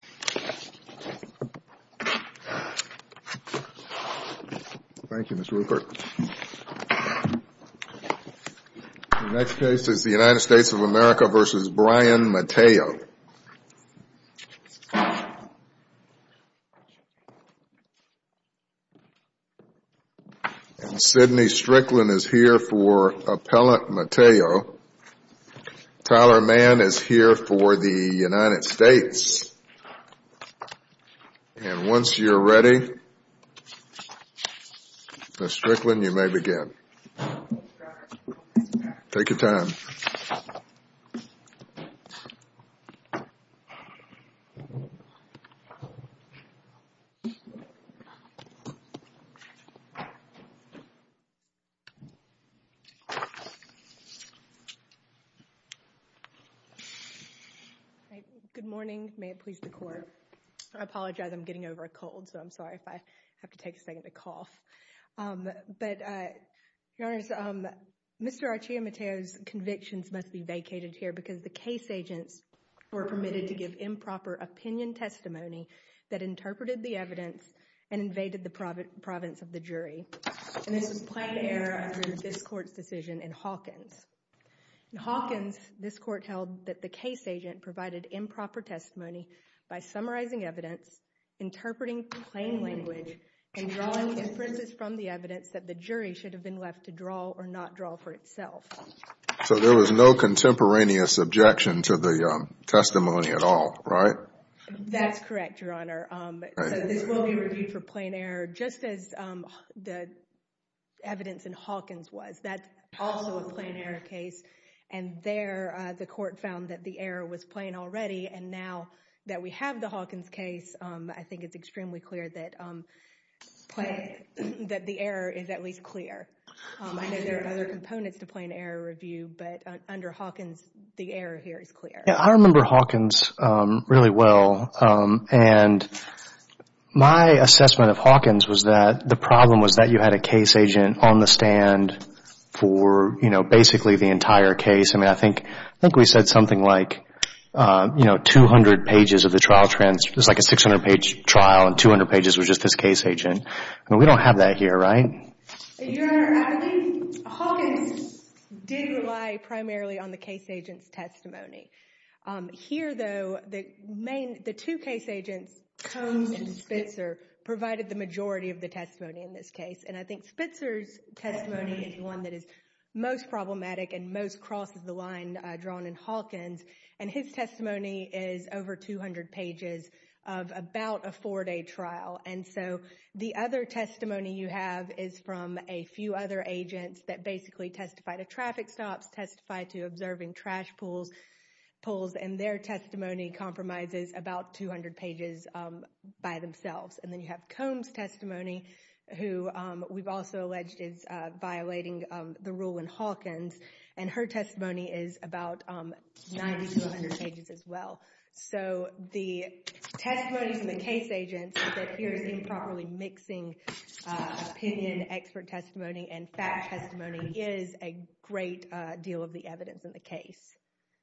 The next case is the United States of America v. Bryan Mateo. Sydney Strickland is here for Appellant Mateo. Tyler Mann is here for the United States. And once you're ready, Mr. Strickland, you may begin. Take your time. Good morning. May it please the Court. I apologize. I'm getting over a cold, so I'm sorry if I have to take a second to cough. But, Your Honors, Mr. Archila Mateo's convictions must be vacated here because the case agents were permitted to give improper opinion testimony that interpreted the evidence and invaded the province of the jury. And this was plain error under this Court's decision in Hawkins. In Hawkins, this Court held that the case agent provided improper testimony by summarizing evidence, interpreting plain language, and drawing inferences from the evidence that the jury should have been left to draw or not draw for itself. So there was no contemporaneous objection to the testimony at all, right? That's correct, Your Honor. So this will be reviewed for plain error, just as the evidence in Hawkins was. That's also a plain error case. And there, the Court found that the error was plain already, and now that we have the case, I think it's extremely clear that the error is at least clear. I know there are other components to plain error review, but under Hawkins, the error here is clear. Yeah, I remember Hawkins really well, and my assessment of Hawkins was that the problem was that you had a case agent on the stand for, you know, basically the entire case. I mean, I think we said something like, you know, 200 pages of the trial transcript. It was like a 600-page trial, and 200 pages was just this case agent. I mean, we don't have that here, right? Your Honor, I think Hawkins did rely primarily on the case agent's testimony. Here though, the two case agents, Combs and Spitzer, provided the majority of the testimony in this case. And I think Spitzer's testimony is the one that is most problematic and most crosses the line drawn in Hawkins, and his testimony is over 200 pages of about a four-day trial. And so the other testimony you have is from a few other agents that basically testify to traffic stops, testify to observing trash pulls, and their testimony compromises about 200 pages by themselves. And then you have Combs' testimony, who we've also alleged is violating the rule in Hawkins, and her testimony is about 90 to 100 pages as well. So the testimonies from the case agents that here is improperly mixing opinion, expert testimony, and fact testimony is a great deal of the evidence in the case.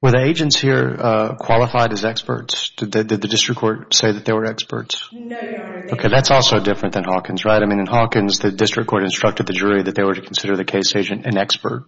Were the agents here qualified as experts? Did the district court say that they were experts? No, Your Honor, they were not. Okay, that's also different than Hawkins, right? I mean, in Hawkins, the district court instructed the jury that they were to consider the case agent an expert.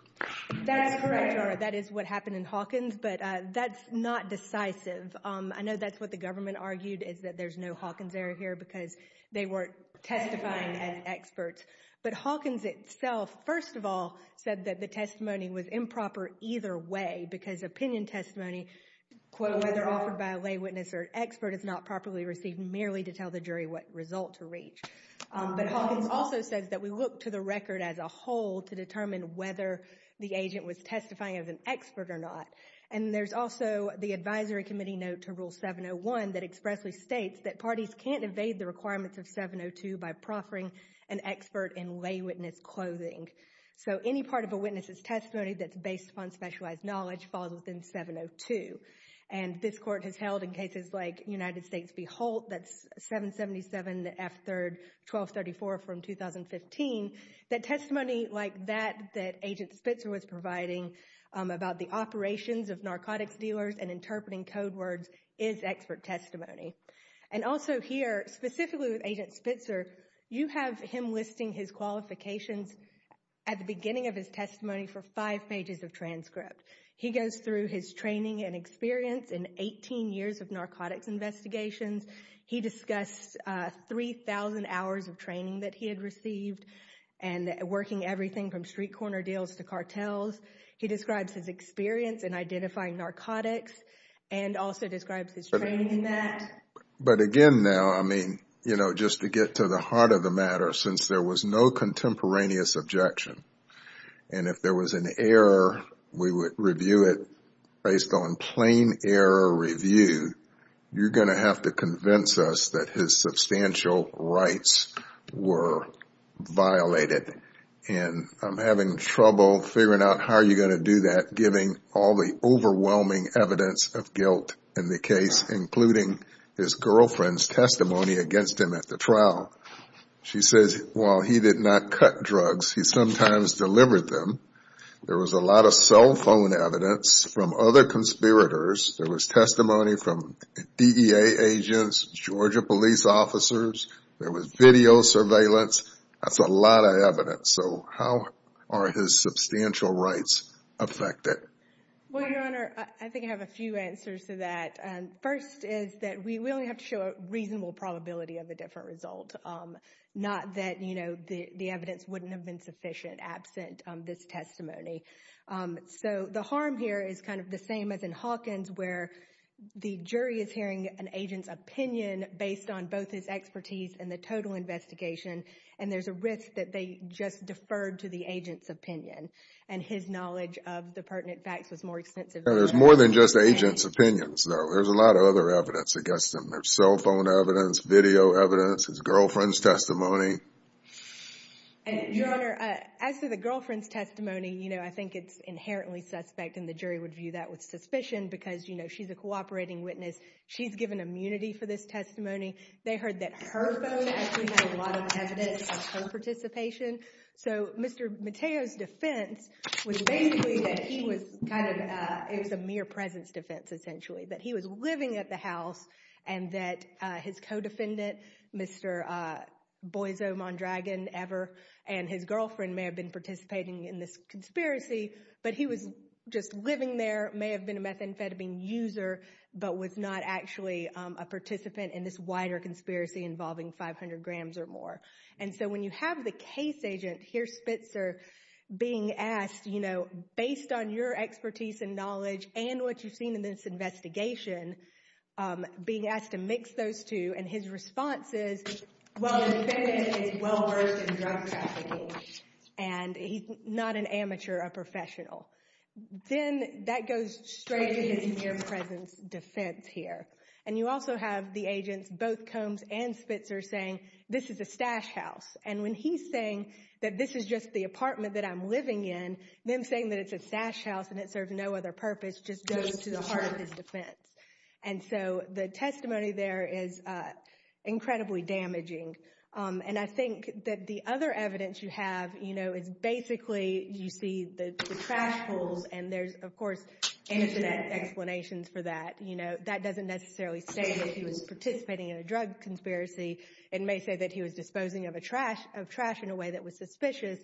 That's correct, Your Honor. That is what happened in Hawkins, but that's not decisive. I know that's what the government argued, is that there's no Hawkins error here because they weren't testifying as experts. But Hawkins itself, first of all, said that the testimony was improper either way, because opinion testimony, quote, whether offered by a lay witness or expert, is not properly received merely to tell the jury what result to reach. But Hawkins also says that we look to the record as a whole to determine whether the agent was testifying as an expert or not. And there's also the advisory committee note to Rule 701 that expressly states that parties can't evade the requirements of 702 by proffering an expert in lay witness clothing. So any part of a witness's testimony that's based upon specialized knowledge falls within 702. And this Court has held in cases like United States v. Holt, that's 777, the F-3rd, 1234 from 2015, that testimony like that that Agent Spitzer was providing about the operations of narcotics dealers and interpreting code words is expert testimony. And also here, specifically with Agent Spitzer, you have him listing his qualifications at the beginning of his testimony for five pages of transcript. He goes through his training and experience in 18 years of narcotics investigations. He discussed 3,000 hours of training that he had received and working everything from street corner deals to cartels. He describes his experience in identifying narcotics and also describes his training in that. But again now, I mean, you know, just to get to the heart of the matter, since there was no contemporaneous objection, and if there was an error, we would review it based on plain error review, you're going to have to convince us that his substantial rights were violated. And I'm having trouble figuring out how you're going to do that, given all the overwhelming evidence of guilt in the case, including his girlfriend's testimony against him at the trial. She says, while he did not cut drugs, he sometimes delivered them. There was a lot of cell phone evidence from other conspirators. There was testimony from DEA agents, Georgia police officers. There was video surveillance. That's a lot of evidence. So how are his substantial rights affected? Well, Your Honor, I think I have a few answers to that. First is that we really have to show a reasonable probability of a different result, not that, you know, the evidence wouldn't have been sufficient absent this testimony. So the harm here is kind of the same as in Hawkins, where the jury is hearing an agent's opinion based on both his expertise and the total investigation. And there's a risk that they just deferred to the agent's opinion, and his knowledge of the pertinent facts was more extensive. There's more than just the agent's opinions, though. There's a lot of other evidence against him. There's cell phone evidence, video evidence, his girlfriend's testimony. And, Your Honor, as to the girlfriend's testimony, you know, I think it's inherently suspect. And the jury would view that with suspicion because, you know, she's a cooperating witness. She's given immunity for this testimony. They heard that her phone actually had a lot of evidence of her participation. So Mr. Mateo's defense was basically that he was kind of, it was a mere presence defense, essentially. That he was living at the house, and that his co-defendant, Mr. Boise Mondragon, ever, and his girlfriend may have been participating in this conspiracy. But he was just living there, may have been a methamphetamine user, but was not actually a participant in this wider conspiracy involving 500 grams or more. And so when you have the case agent, here's Spitzer, being asked, you know, based on your expertise and knowledge, and what you've seen in this investigation, being asked to mix those two, and his response is, well, the defendant is well-versed in drug trafficking. And he's not an amateur, a professional. Then that goes straight to his mere presence defense here. And you also have the agents, both Combs and Spitzer, saying, this is a stash house. And when he's saying that this is just the apartment that I'm living in, them saying that it's a stash house and it serves no other purpose just goes to the heart of his defense. And so the testimony there is incredibly damaging. And I think that the other evidence you have, you know, is basically you see the trash pools, and there's, of course, internet explanations for that. You know, that doesn't necessarily state that he was participating in a drug conspiracy. It may say that he was disposing of trash in a way that was suspicious,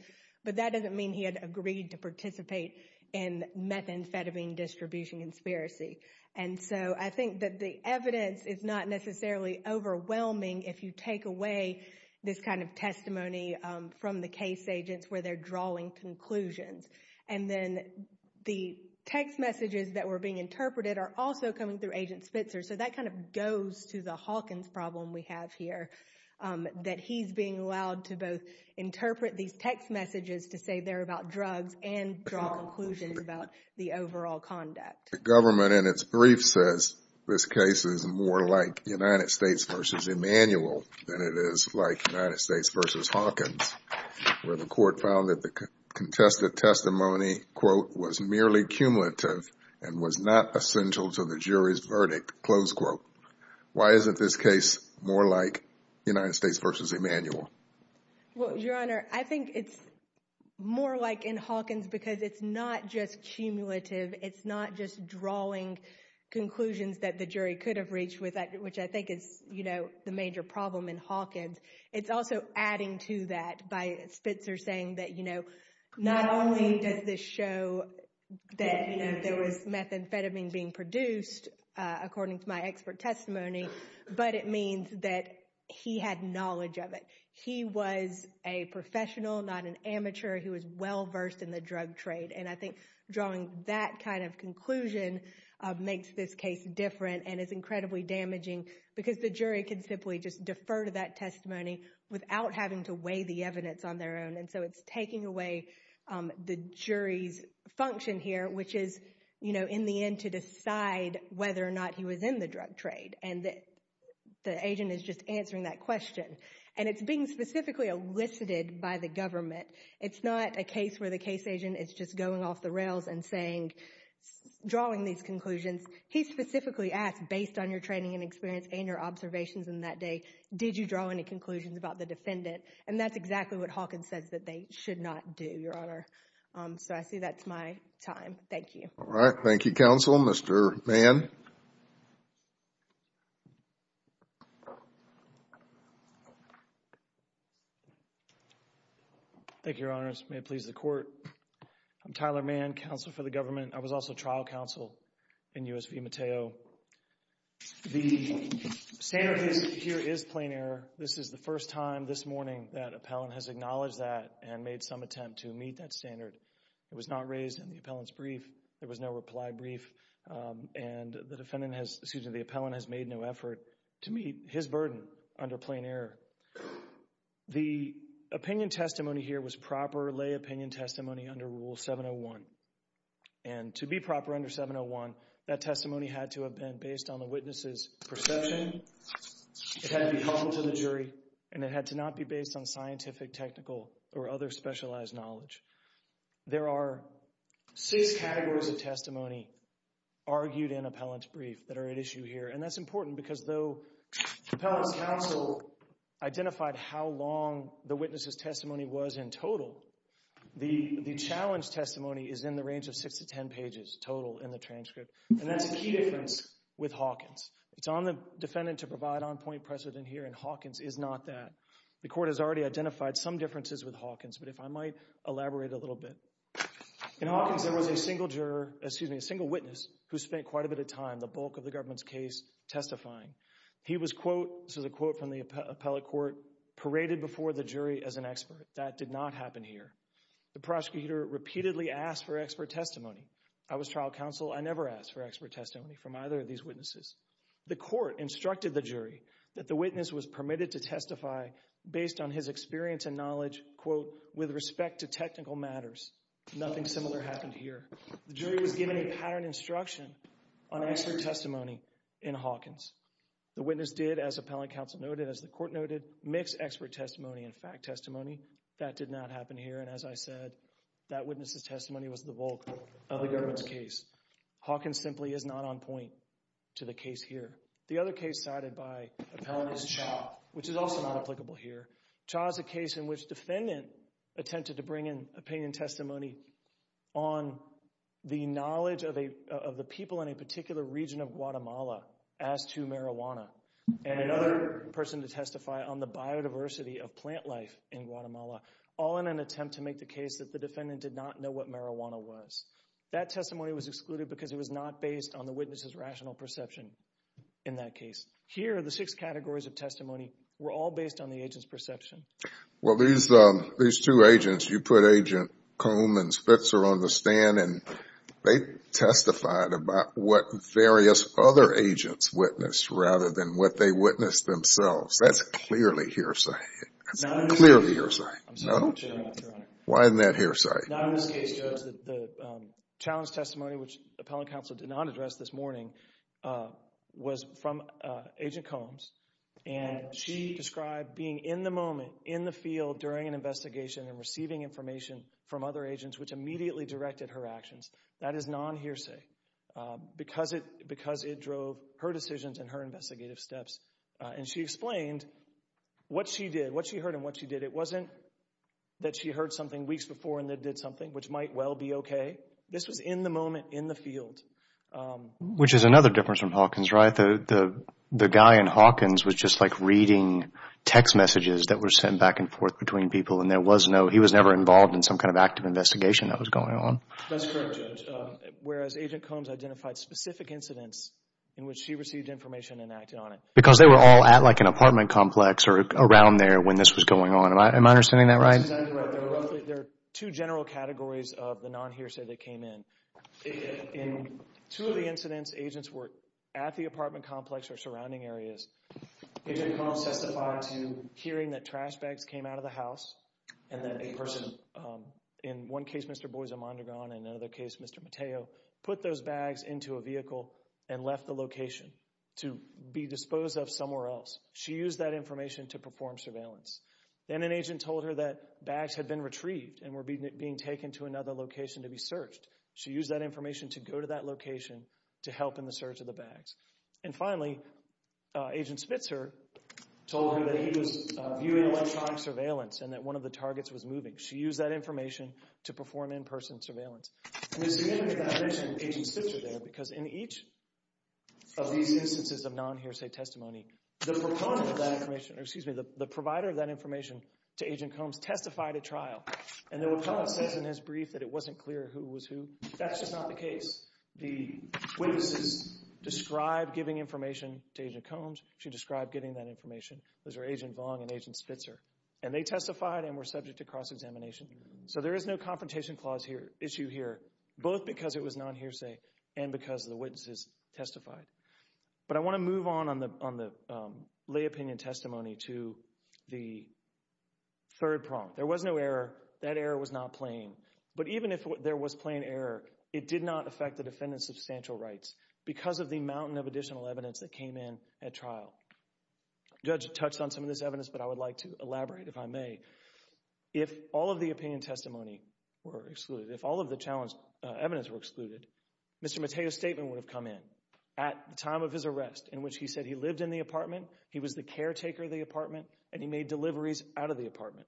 but that doesn't mean he had agreed to participate in methamphetamine distribution conspiracy. And so I think that the evidence is not necessarily overwhelming if you take away this kind of testimony from the case agents where they're drawing conclusions. And then the text messages that were being interpreted are also coming through Agent Spitzer. So that kind of goes to the Hawkins problem we have here, that he's being allowed to both interpret these text messages to say they're about drugs and draw conclusions about the overall conduct. The government, in its brief, says this case is more like United States versus Emanuel than it is like United States versus Hawkins, where the court found that the contested testimony, quote, was merely cumulative and was not essential to the jury's verdict, close quote. Why isn't this case more like United States versus Emanuel? Well, Your Honor, I think it's more like in Hawkins because it's not just cumulative. It's not just drawing conclusions that the jury could have reached with that, which I think is, you know, the major problem in Hawkins. It's also adding to that by Spitzer saying that, you know, not only does this show that, you know, there was methamphetamine being produced, according to my expert testimony, but it means that he had knowledge of it. He was a professional, not an amateur. He was well-versed in the drug trade. And I think drawing that kind of conclusion makes this case different and is incredibly damaging because the jury can simply just defer to that testimony without having to weigh the evidence on their own. And so it's taking away the jury's function here, which is, you know, in the end to decide whether or not he was in the drug trade. And the agent is just answering that question. And it's being specifically elicited by the government. It's not a case where the case agent is just going off the rails and saying, drawing these conclusions. He specifically asked based on your training and experience and your observations in that day, did you draw any conclusions about the defendant? And that's exactly what Hawkins says that they should not do, your honor. So, I see that's my time. Thank you. All right. Thank you, counsel. Mr. Mann? Thank you, your honors. May it please the court. I'm Tyler Mann, counsel for the government. I was also trial counsel in U.S. v. Mateo. The standard here is plain error. This is the first time this morning that appellant has acknowledged that and made some attempt to meet that standard. It was not raised in the appellant's brief. There was no reply brief. And the defendant has, excuse me, the appellant has made no effort to meet his burden under plain error. The opinion testimony here was proper lay opinion testimony under Rule 701. And to be proper under 701, that testimony had to have been based on the witness's perception. It had to be helpful to the jury. And it had to not be based on scientific, technical, or other specialized knowledge. There are six categories of testimony argued in appellant's brief that are at issue here. And that's important because though appellant's counsel identified how long the witness's testimony was in total, the challenge testimony is in the range of six to ten pages total in the transcript. And that's a key difference with Hawkins. It's on the defendant to provide on-point precedent here, and Hawkins is not that. The court has already identified some differences with Hawkins, but if I might elaborate a little bit. In Hawkins, there was a single juror, excuse me, a single witness who spent quite a bit of time, the bulk of the government's case, testifying. He was, quote, this is a quote from the appellate court, paraded before the jury as an expert. That did not happen here. The prosecutor repeatedly asked for expert testimony. I was trial counsel. I never asked for expert testimony from either of these witnesses. The court instructed the jury that the witness was permitted to testify based on his experience and knowledge, quote, with respect to technical matters. Nothing similar happened here. The jury was given a pattern instruction on expert testimony in Hawkins. The witness did, as appellant counsel noted, as the court noted, mix expert testimony and fact testimony. That did not happen here. And as I said, that witness's testimony was the bulk of the government's case. Hawkins simply is not on point to the case here. The other case cited by appellant is Chau, which is also not applicable here. Chau is a case in which defendant attempted to bring in opinion testimony on the knowledge of the people in a particular region of Guatemala as to marijuana and another person to testify on the biodiversity of plant life in Guatemala, all in an attempt to make the case that the defendant did not know what marijuana was. That testimony was excluded because it was not based on the witness's rational perception in that case. Here, the six categories of testimony were all based on the agent's perception. Well, these two agents, you put Agent Combs and Spitzer on the stand and they testified about what various other agents witnessed rather than what they witnessed themselves. That's clearly hearsay. That's clearly hearsay. No? I'm sorry, Your Honor. Why isn't that hearsay? No, in this case, Judge, the challenge testimony, which appellant counsel did not address this morning, was from Agent Combs, and she described being in the moment, in the field, during an investigation and receiving information from other agents, which immediately directed her actions. That is non-hearsay because it drove her decisions and her investigative steps. And she explained what she did, what she heard and what she did. It wasn't that she heard something weeks before and then did something, which might well be okay. This was in the moment, in the field. Which is another difference from Hawkins, right? The guy in Hawkins was just like reading text messages that were sent back and forth between people and there was no, he was never involved in some kind of active investigation that was going on. That's correct, Judge, whereas Agent Combs identified specific incidents in which she received information and acted on it. Because they were all at like an apartment complex or around there when this was going on. Am I understanding that right? That's exactly right. There are roughly, there are two general categories of the non-hearsay that came in. In two of the incidents, agents were at the apartment complex or surrounding areas. Agent Combs testified to hearing that trash bags came out of the house and that a person, in one case, Mr. Boies Amondegon, in another case, Mr. Mateo, put those bags into a vehicle and left the location to be disposed of somewhere else. She used that information to perform surveillance. Then an agent told her that bags had been retrieved and were being taken to another location to be searched. She used that information to go to that location to help in the search of the bags. And finally, Agent Spitzer told her that he was viewing electronic surveillance and that one of the targets was moving. She used that information to perform in-person surveillance. And it's significant that I mention Agent Spitzer there because in each of these instances of non-hearsay testimony, the proponent of that information, excuse me, the provider of that information to Agent Combs testified at trial. And then when Combs says in his brief that it wasn't clear who was who, that's just not the case. The witnesses described giving information to Agent Combs. She described giving that information. Those were Agent Vong and Agent Spitzer. And they testified and were subject to cross-examination. So there is no confrontation clause here, issue here, both because it was non-hearsay and because the witnesses testified. But I want to move on on the lay opinion testimony to the third prompt. There was no error. That error was not plain. But even if there was plain error, it did not affect the defendant's substantial rights because of the mountain of additional evidence that came in at trial. The judge touched on some of this evidence, but I would like to elaborate, if I may. If all of the opinion testimony were excluded, if all of the evidence were excluded, Mr. Mateo, at the time of his arrest, in which he said he lived in the apartment, he was the caretaker of the apartment, and he made deliveries out of the apartment,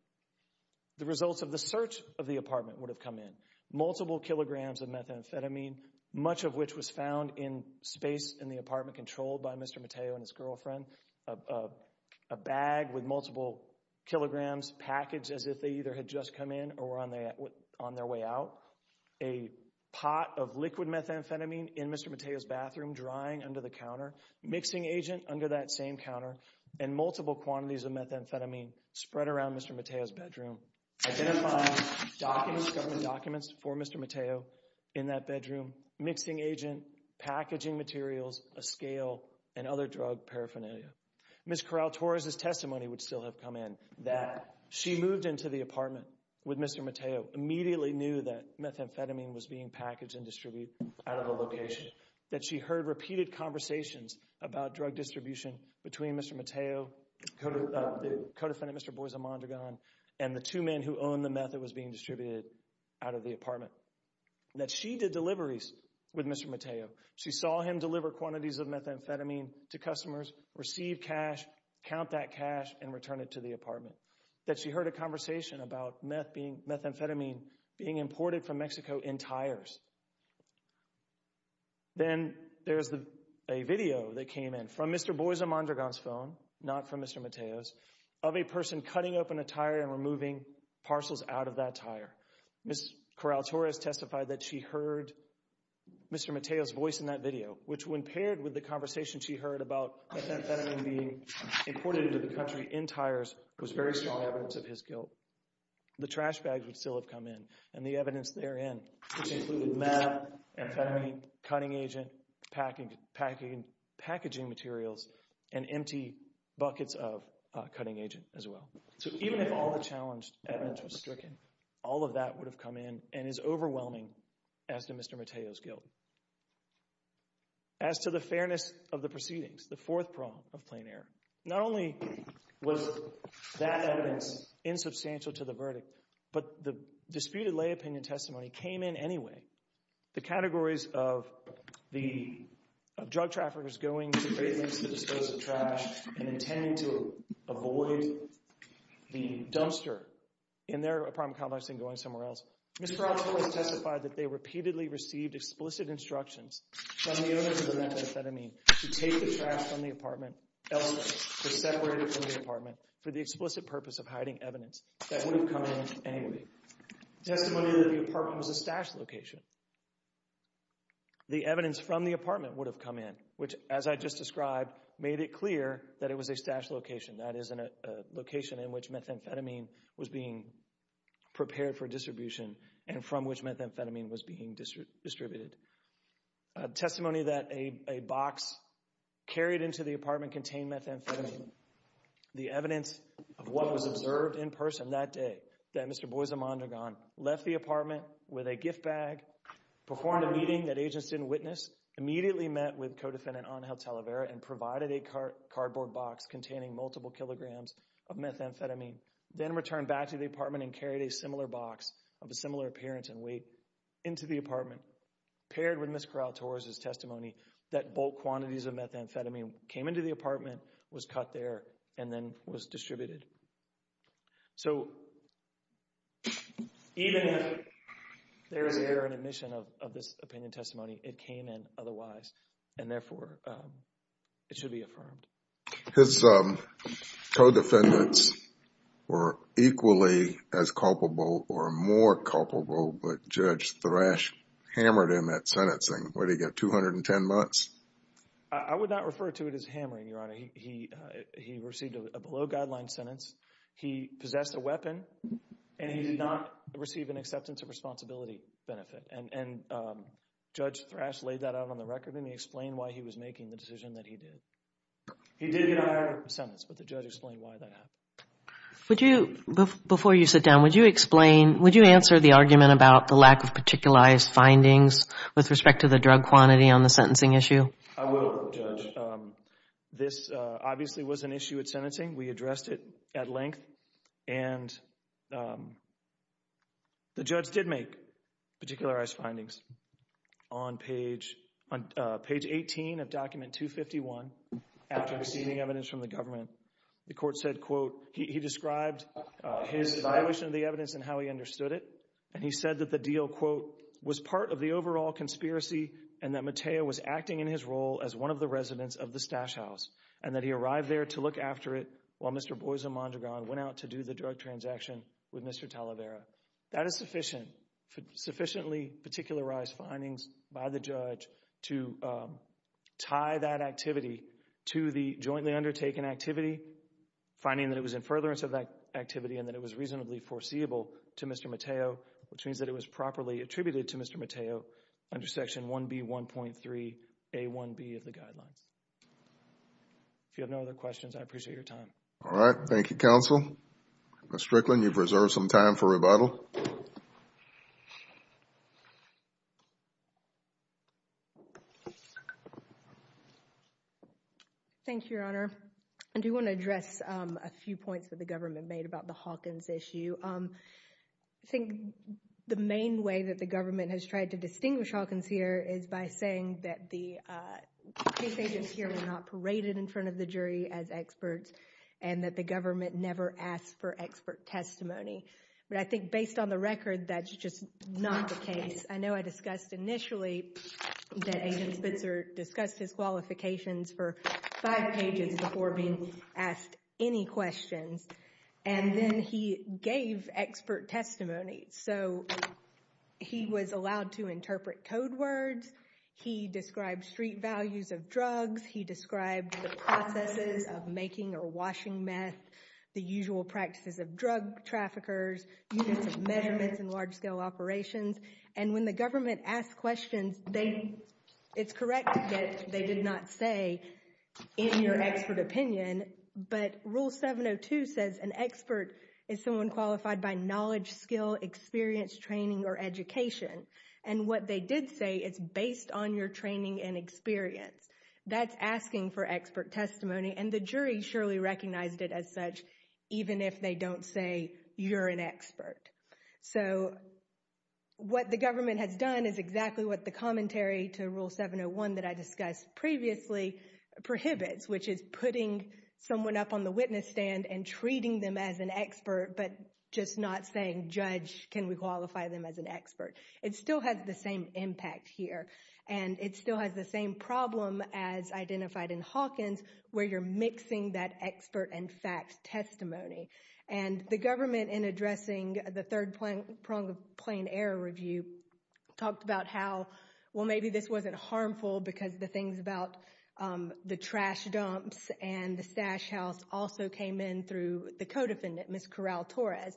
the results of the search of the apartment would have come in. Multiple kilograms of methamphetamine, much of which was found in space in the apartment controlled by Mr. Mateo and his girlfriend, a bag with multiple kilograms packaged as if they either had just come in or were on their way out, a pot of liquid methamphetamine in Mr. Mateo's bathroom, drying under the counter, mixing agent under that same counter, and multiple quantities of methamphetamine spread around Mr. Mateo's bedroom. Identifying government documents for Mr. Mateo in that bedroom, mixing agent, packaging materials, a scale, and other drug paraphernalia. Ms. Corral Torres' testimony would still have come in, that she moved into the apartment with Mr. Mateo, immediately knew that methamphetamine was being packaged and distributed out of the location, that she heard repeated conversations about drug distribution between Mr. Mateo, the co-defendant, Mr. Boise Mondragon, and the two men who owned the meth that was being distributed out of the apartment, that she did deliveries with Mr. Mateo, she saw him deliver quantities of methamphetamine to customers, receive cash, count that cash, and return it to the apartment, that she heard a conversation about methamphetamine being imported from Then there's a video that came in from Mr. Boise Mondragon's phone, not from Mr. Mateo's, of a person cutting open a tire and removing parcels out of that tire. Ms. Corral Torres testified that she heard Mr. Mateo's voice in that video, which when paired with the conversation she heard about methamphetamine being imported into the country in tires was very strong evidence of his guilt. The trash bags would still have come in, and the evidence therein, which included meth, amphetamine, cutting agent, packaging materials, and empty buckets of cutting agent as well. So even if all the challenged evidence was stricken, all of that would have come in and is overwhelming as to Mr. Mateo's guilt. As to the fairness of the proceedings, the fourth prong of plain error, not only was that evidence insubstantial to the verdict, but the disputed lay opinion testimony came in anyway. The categories of the drug traffickers going to the disposal of trash and intending to avoid the dumpster in their apartment complex and going somewhere else, Ms. Corral Torres testified that they repeatedly received explicit instructions from the owners of the methamphetamine to take the trash from the apartment elsewhere, to separate it from the apartment for the explicit purpose of hiding evidence that would have come in anyway. Testimony that the apartment was a stash location. The evidence from the apartment would have come in, which, as I just described, made it clear that it was a stash location. That is a location in which methamphetamine was being prepared for distribution and from which methamphetamine was being distributed. Testimony that a box carried into the apartment contained methamphetamine. The evidence of what was observed in person that day, that Mr. Boisimondragon left the apartment with a gift bag, performed a meeting that agents didn't witness, immediately met with co-defendant Angel Talavera and provided a cardboard box containing multiple kilograms of methamphetamine, then returned back to the apartment and carried a similar box of a similar appearance and weight into the apartment, paired with Ms. Corral Torres' testimony that bulk quantities of methamphetamine came into the apartment, was cut there, and then was distributed. So, even if there is error in admission of this opinion testimony, it came in otherwise and therefore it should be affirmed. His co-defendants were equally as culpable or more culpable, but Judge Thrash hammered in that sentencing. What did he get, 210 months? I would not refer to it as hammering, Your Honor. He received a below-guideline sentence, he possessed a weapon, and he did not receive an acceptance of responsibility benefit. And Judge Thrash laid that out on the record and he explained why he was making the decision that he did. He did get a higher sentence, but the judge explained why that happened. Before you sit down, would you explain, would you answer the argument about the lack of the drug quantity on the sentencing issue? I will, Judge. This obviously was an issue at sentencing, we addressed it at length, and the judge did make particularized findings. On page 18 of document 251, after receiving evidence from the government, the court said, quote, he described his evaluation of the evidence and how he understood it, and he said that the deal, quote, was part of the overall conspiracy and that Mateo was acting in his role as one of the residents of the Stash House, and that he arrived there to look after it while Mr. Boisomondragon went out to do the drug transaction with Mr. Talavera. That is sufficient, sufficiently particularized findings by the judge to tie that activity to the jointly undertaken activity, finding that it was in furtherance of that activity and that it was reasonably foreseeable to Mr. Mateo, which means that it was properly attributed to Mr. Mateo under Section 1B1.3A1B of the Guidelines. If you have no other questions, I appreciate your time. All right. Thank you, Counsel. Ms. Strickland, you've reserved some time for rebuttal. Thank you, Your Honor. I do want to address a few points that the government made about the Hawkins issue. I think the main way that the government has tried to distinguish Hawkins here is by saying that the case agents here were not paraded in front of the jury as experts and that the government never asked for expert testimony. But I think based on the record, that's just not the case. I know I discussed initially that Agent Spitzer discussed his qualifications for five pages before being asked any questions, and then he gave expert testimony. So he was allowed to interpret code words. He described street values of drugs. He described the processes of making or washing meth, the usual practices of drug traffickers, units of measurements and large-scale operations. And when the government asked questions, it's correct to get, they did not say, in your expert opinion, but Rule 702 says an expert is someone qualified by knowledge, skill, experience, training, or education. And what they did say, it's based on your training and experience. That's asking for expert testimony, and the jury surely recognized it as such, even if they don't say, you're an expert. So what the government has done is exactly what the commentary to Rule 701 that I discussed previously prohibits, which is putting someone up on the witness stand and treating them as an expert, but just not saying, judge, can we qualify them as an expert? It still has the same impact here. And it still has the same problem as identified in Hawkins, where you're mixing that expert and fact testimony. And the government, in addressing the third prong of plain error review, talked about how, well, maybe this wasn't harmful because the things about the trash dumps and the stash house also came in through the co-defendant, Ms. Corral-Torres.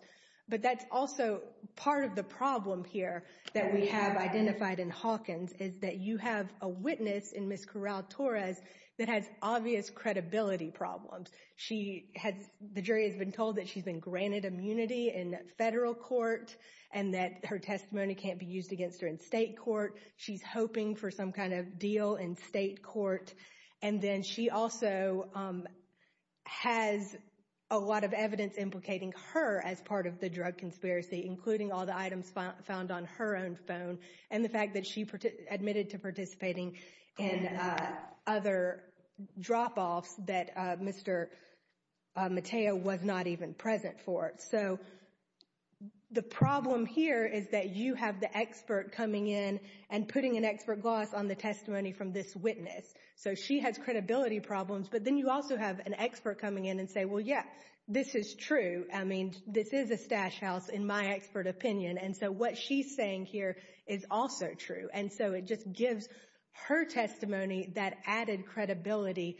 But that's also part of the problem here that we have identified in Hawkins, is that you have a witness in Ms. Corral-Torres that has obvious credibility problems. She has, the jury has been told that she's been granted immunity in federal court and that her testimony can't be used against her in state court. She's hoping for some kind of deal in state court. And then she also has a lot of evidence implicating her as part of the drug conspiracy, including all the items found on her own phone and the fact that she admitted to participating in other drop-offs that Mr. Mateo was not even present for. So the problem here is that you have the expert coming in and putting an expert gloss on the testimony from this witness. So she has credibility problems. But then you also have an expert coming in and say, well, yeah, this is true. I mean, this is a stash house, in my expert opinion. And so what she's saying here is also true. And so it just gives her testimony that added credibility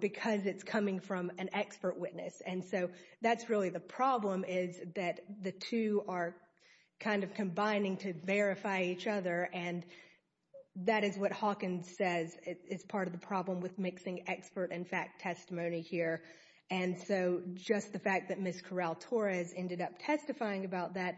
because it's coming from an expert witness. And so that's really the problem is that the two are kind of combining to verify each other. And that is what Hawkins says is part of the problem with mixing expert and fact testimony here. And so just the fact that Ms. Corral-Torres ended up testifying about that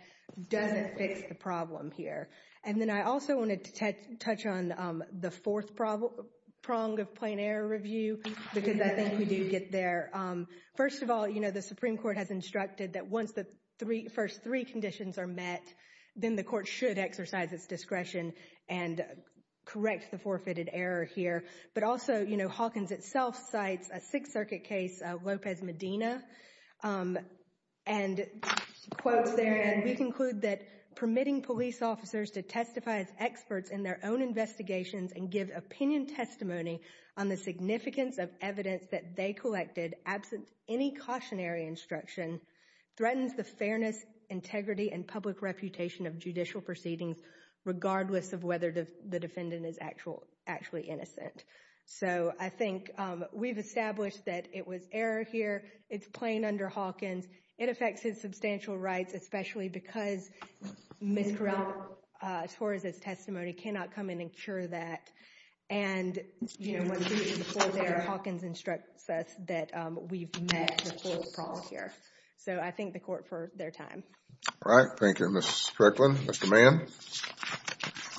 doesn't fix the problem here. And then I also wanted to touch on the fourth prong of plain error review because I think we do get there. First of all, the Supreme Court has instructed that once the first three conditions are met, then the court should exercise its discretion and correct the forfeited error here. But also, Hawkins itself cites a Sixth Circuit case, Lopez Medina, and quotes there. We conclude that permitting police officers to testify as experts in their own investigations and give opinion testimony on the significance of evidence that they collected, absent any cautionary instruction, threatens the fairness, integrity, and public reputation of judicial proceedings, regardless of whether the defendant is actually innocent. So I think we've established that it was error here. It's plain under Hawkins. It affects his substantial rights, especially because Ms. Corral-Torres' testimony cannot come in and cure that. And, you know, Hawkins instructs us that we've met the fourth prong here. So I thank the court for their time. All right. Thank you, Ms. Strickland. Mr. Mann.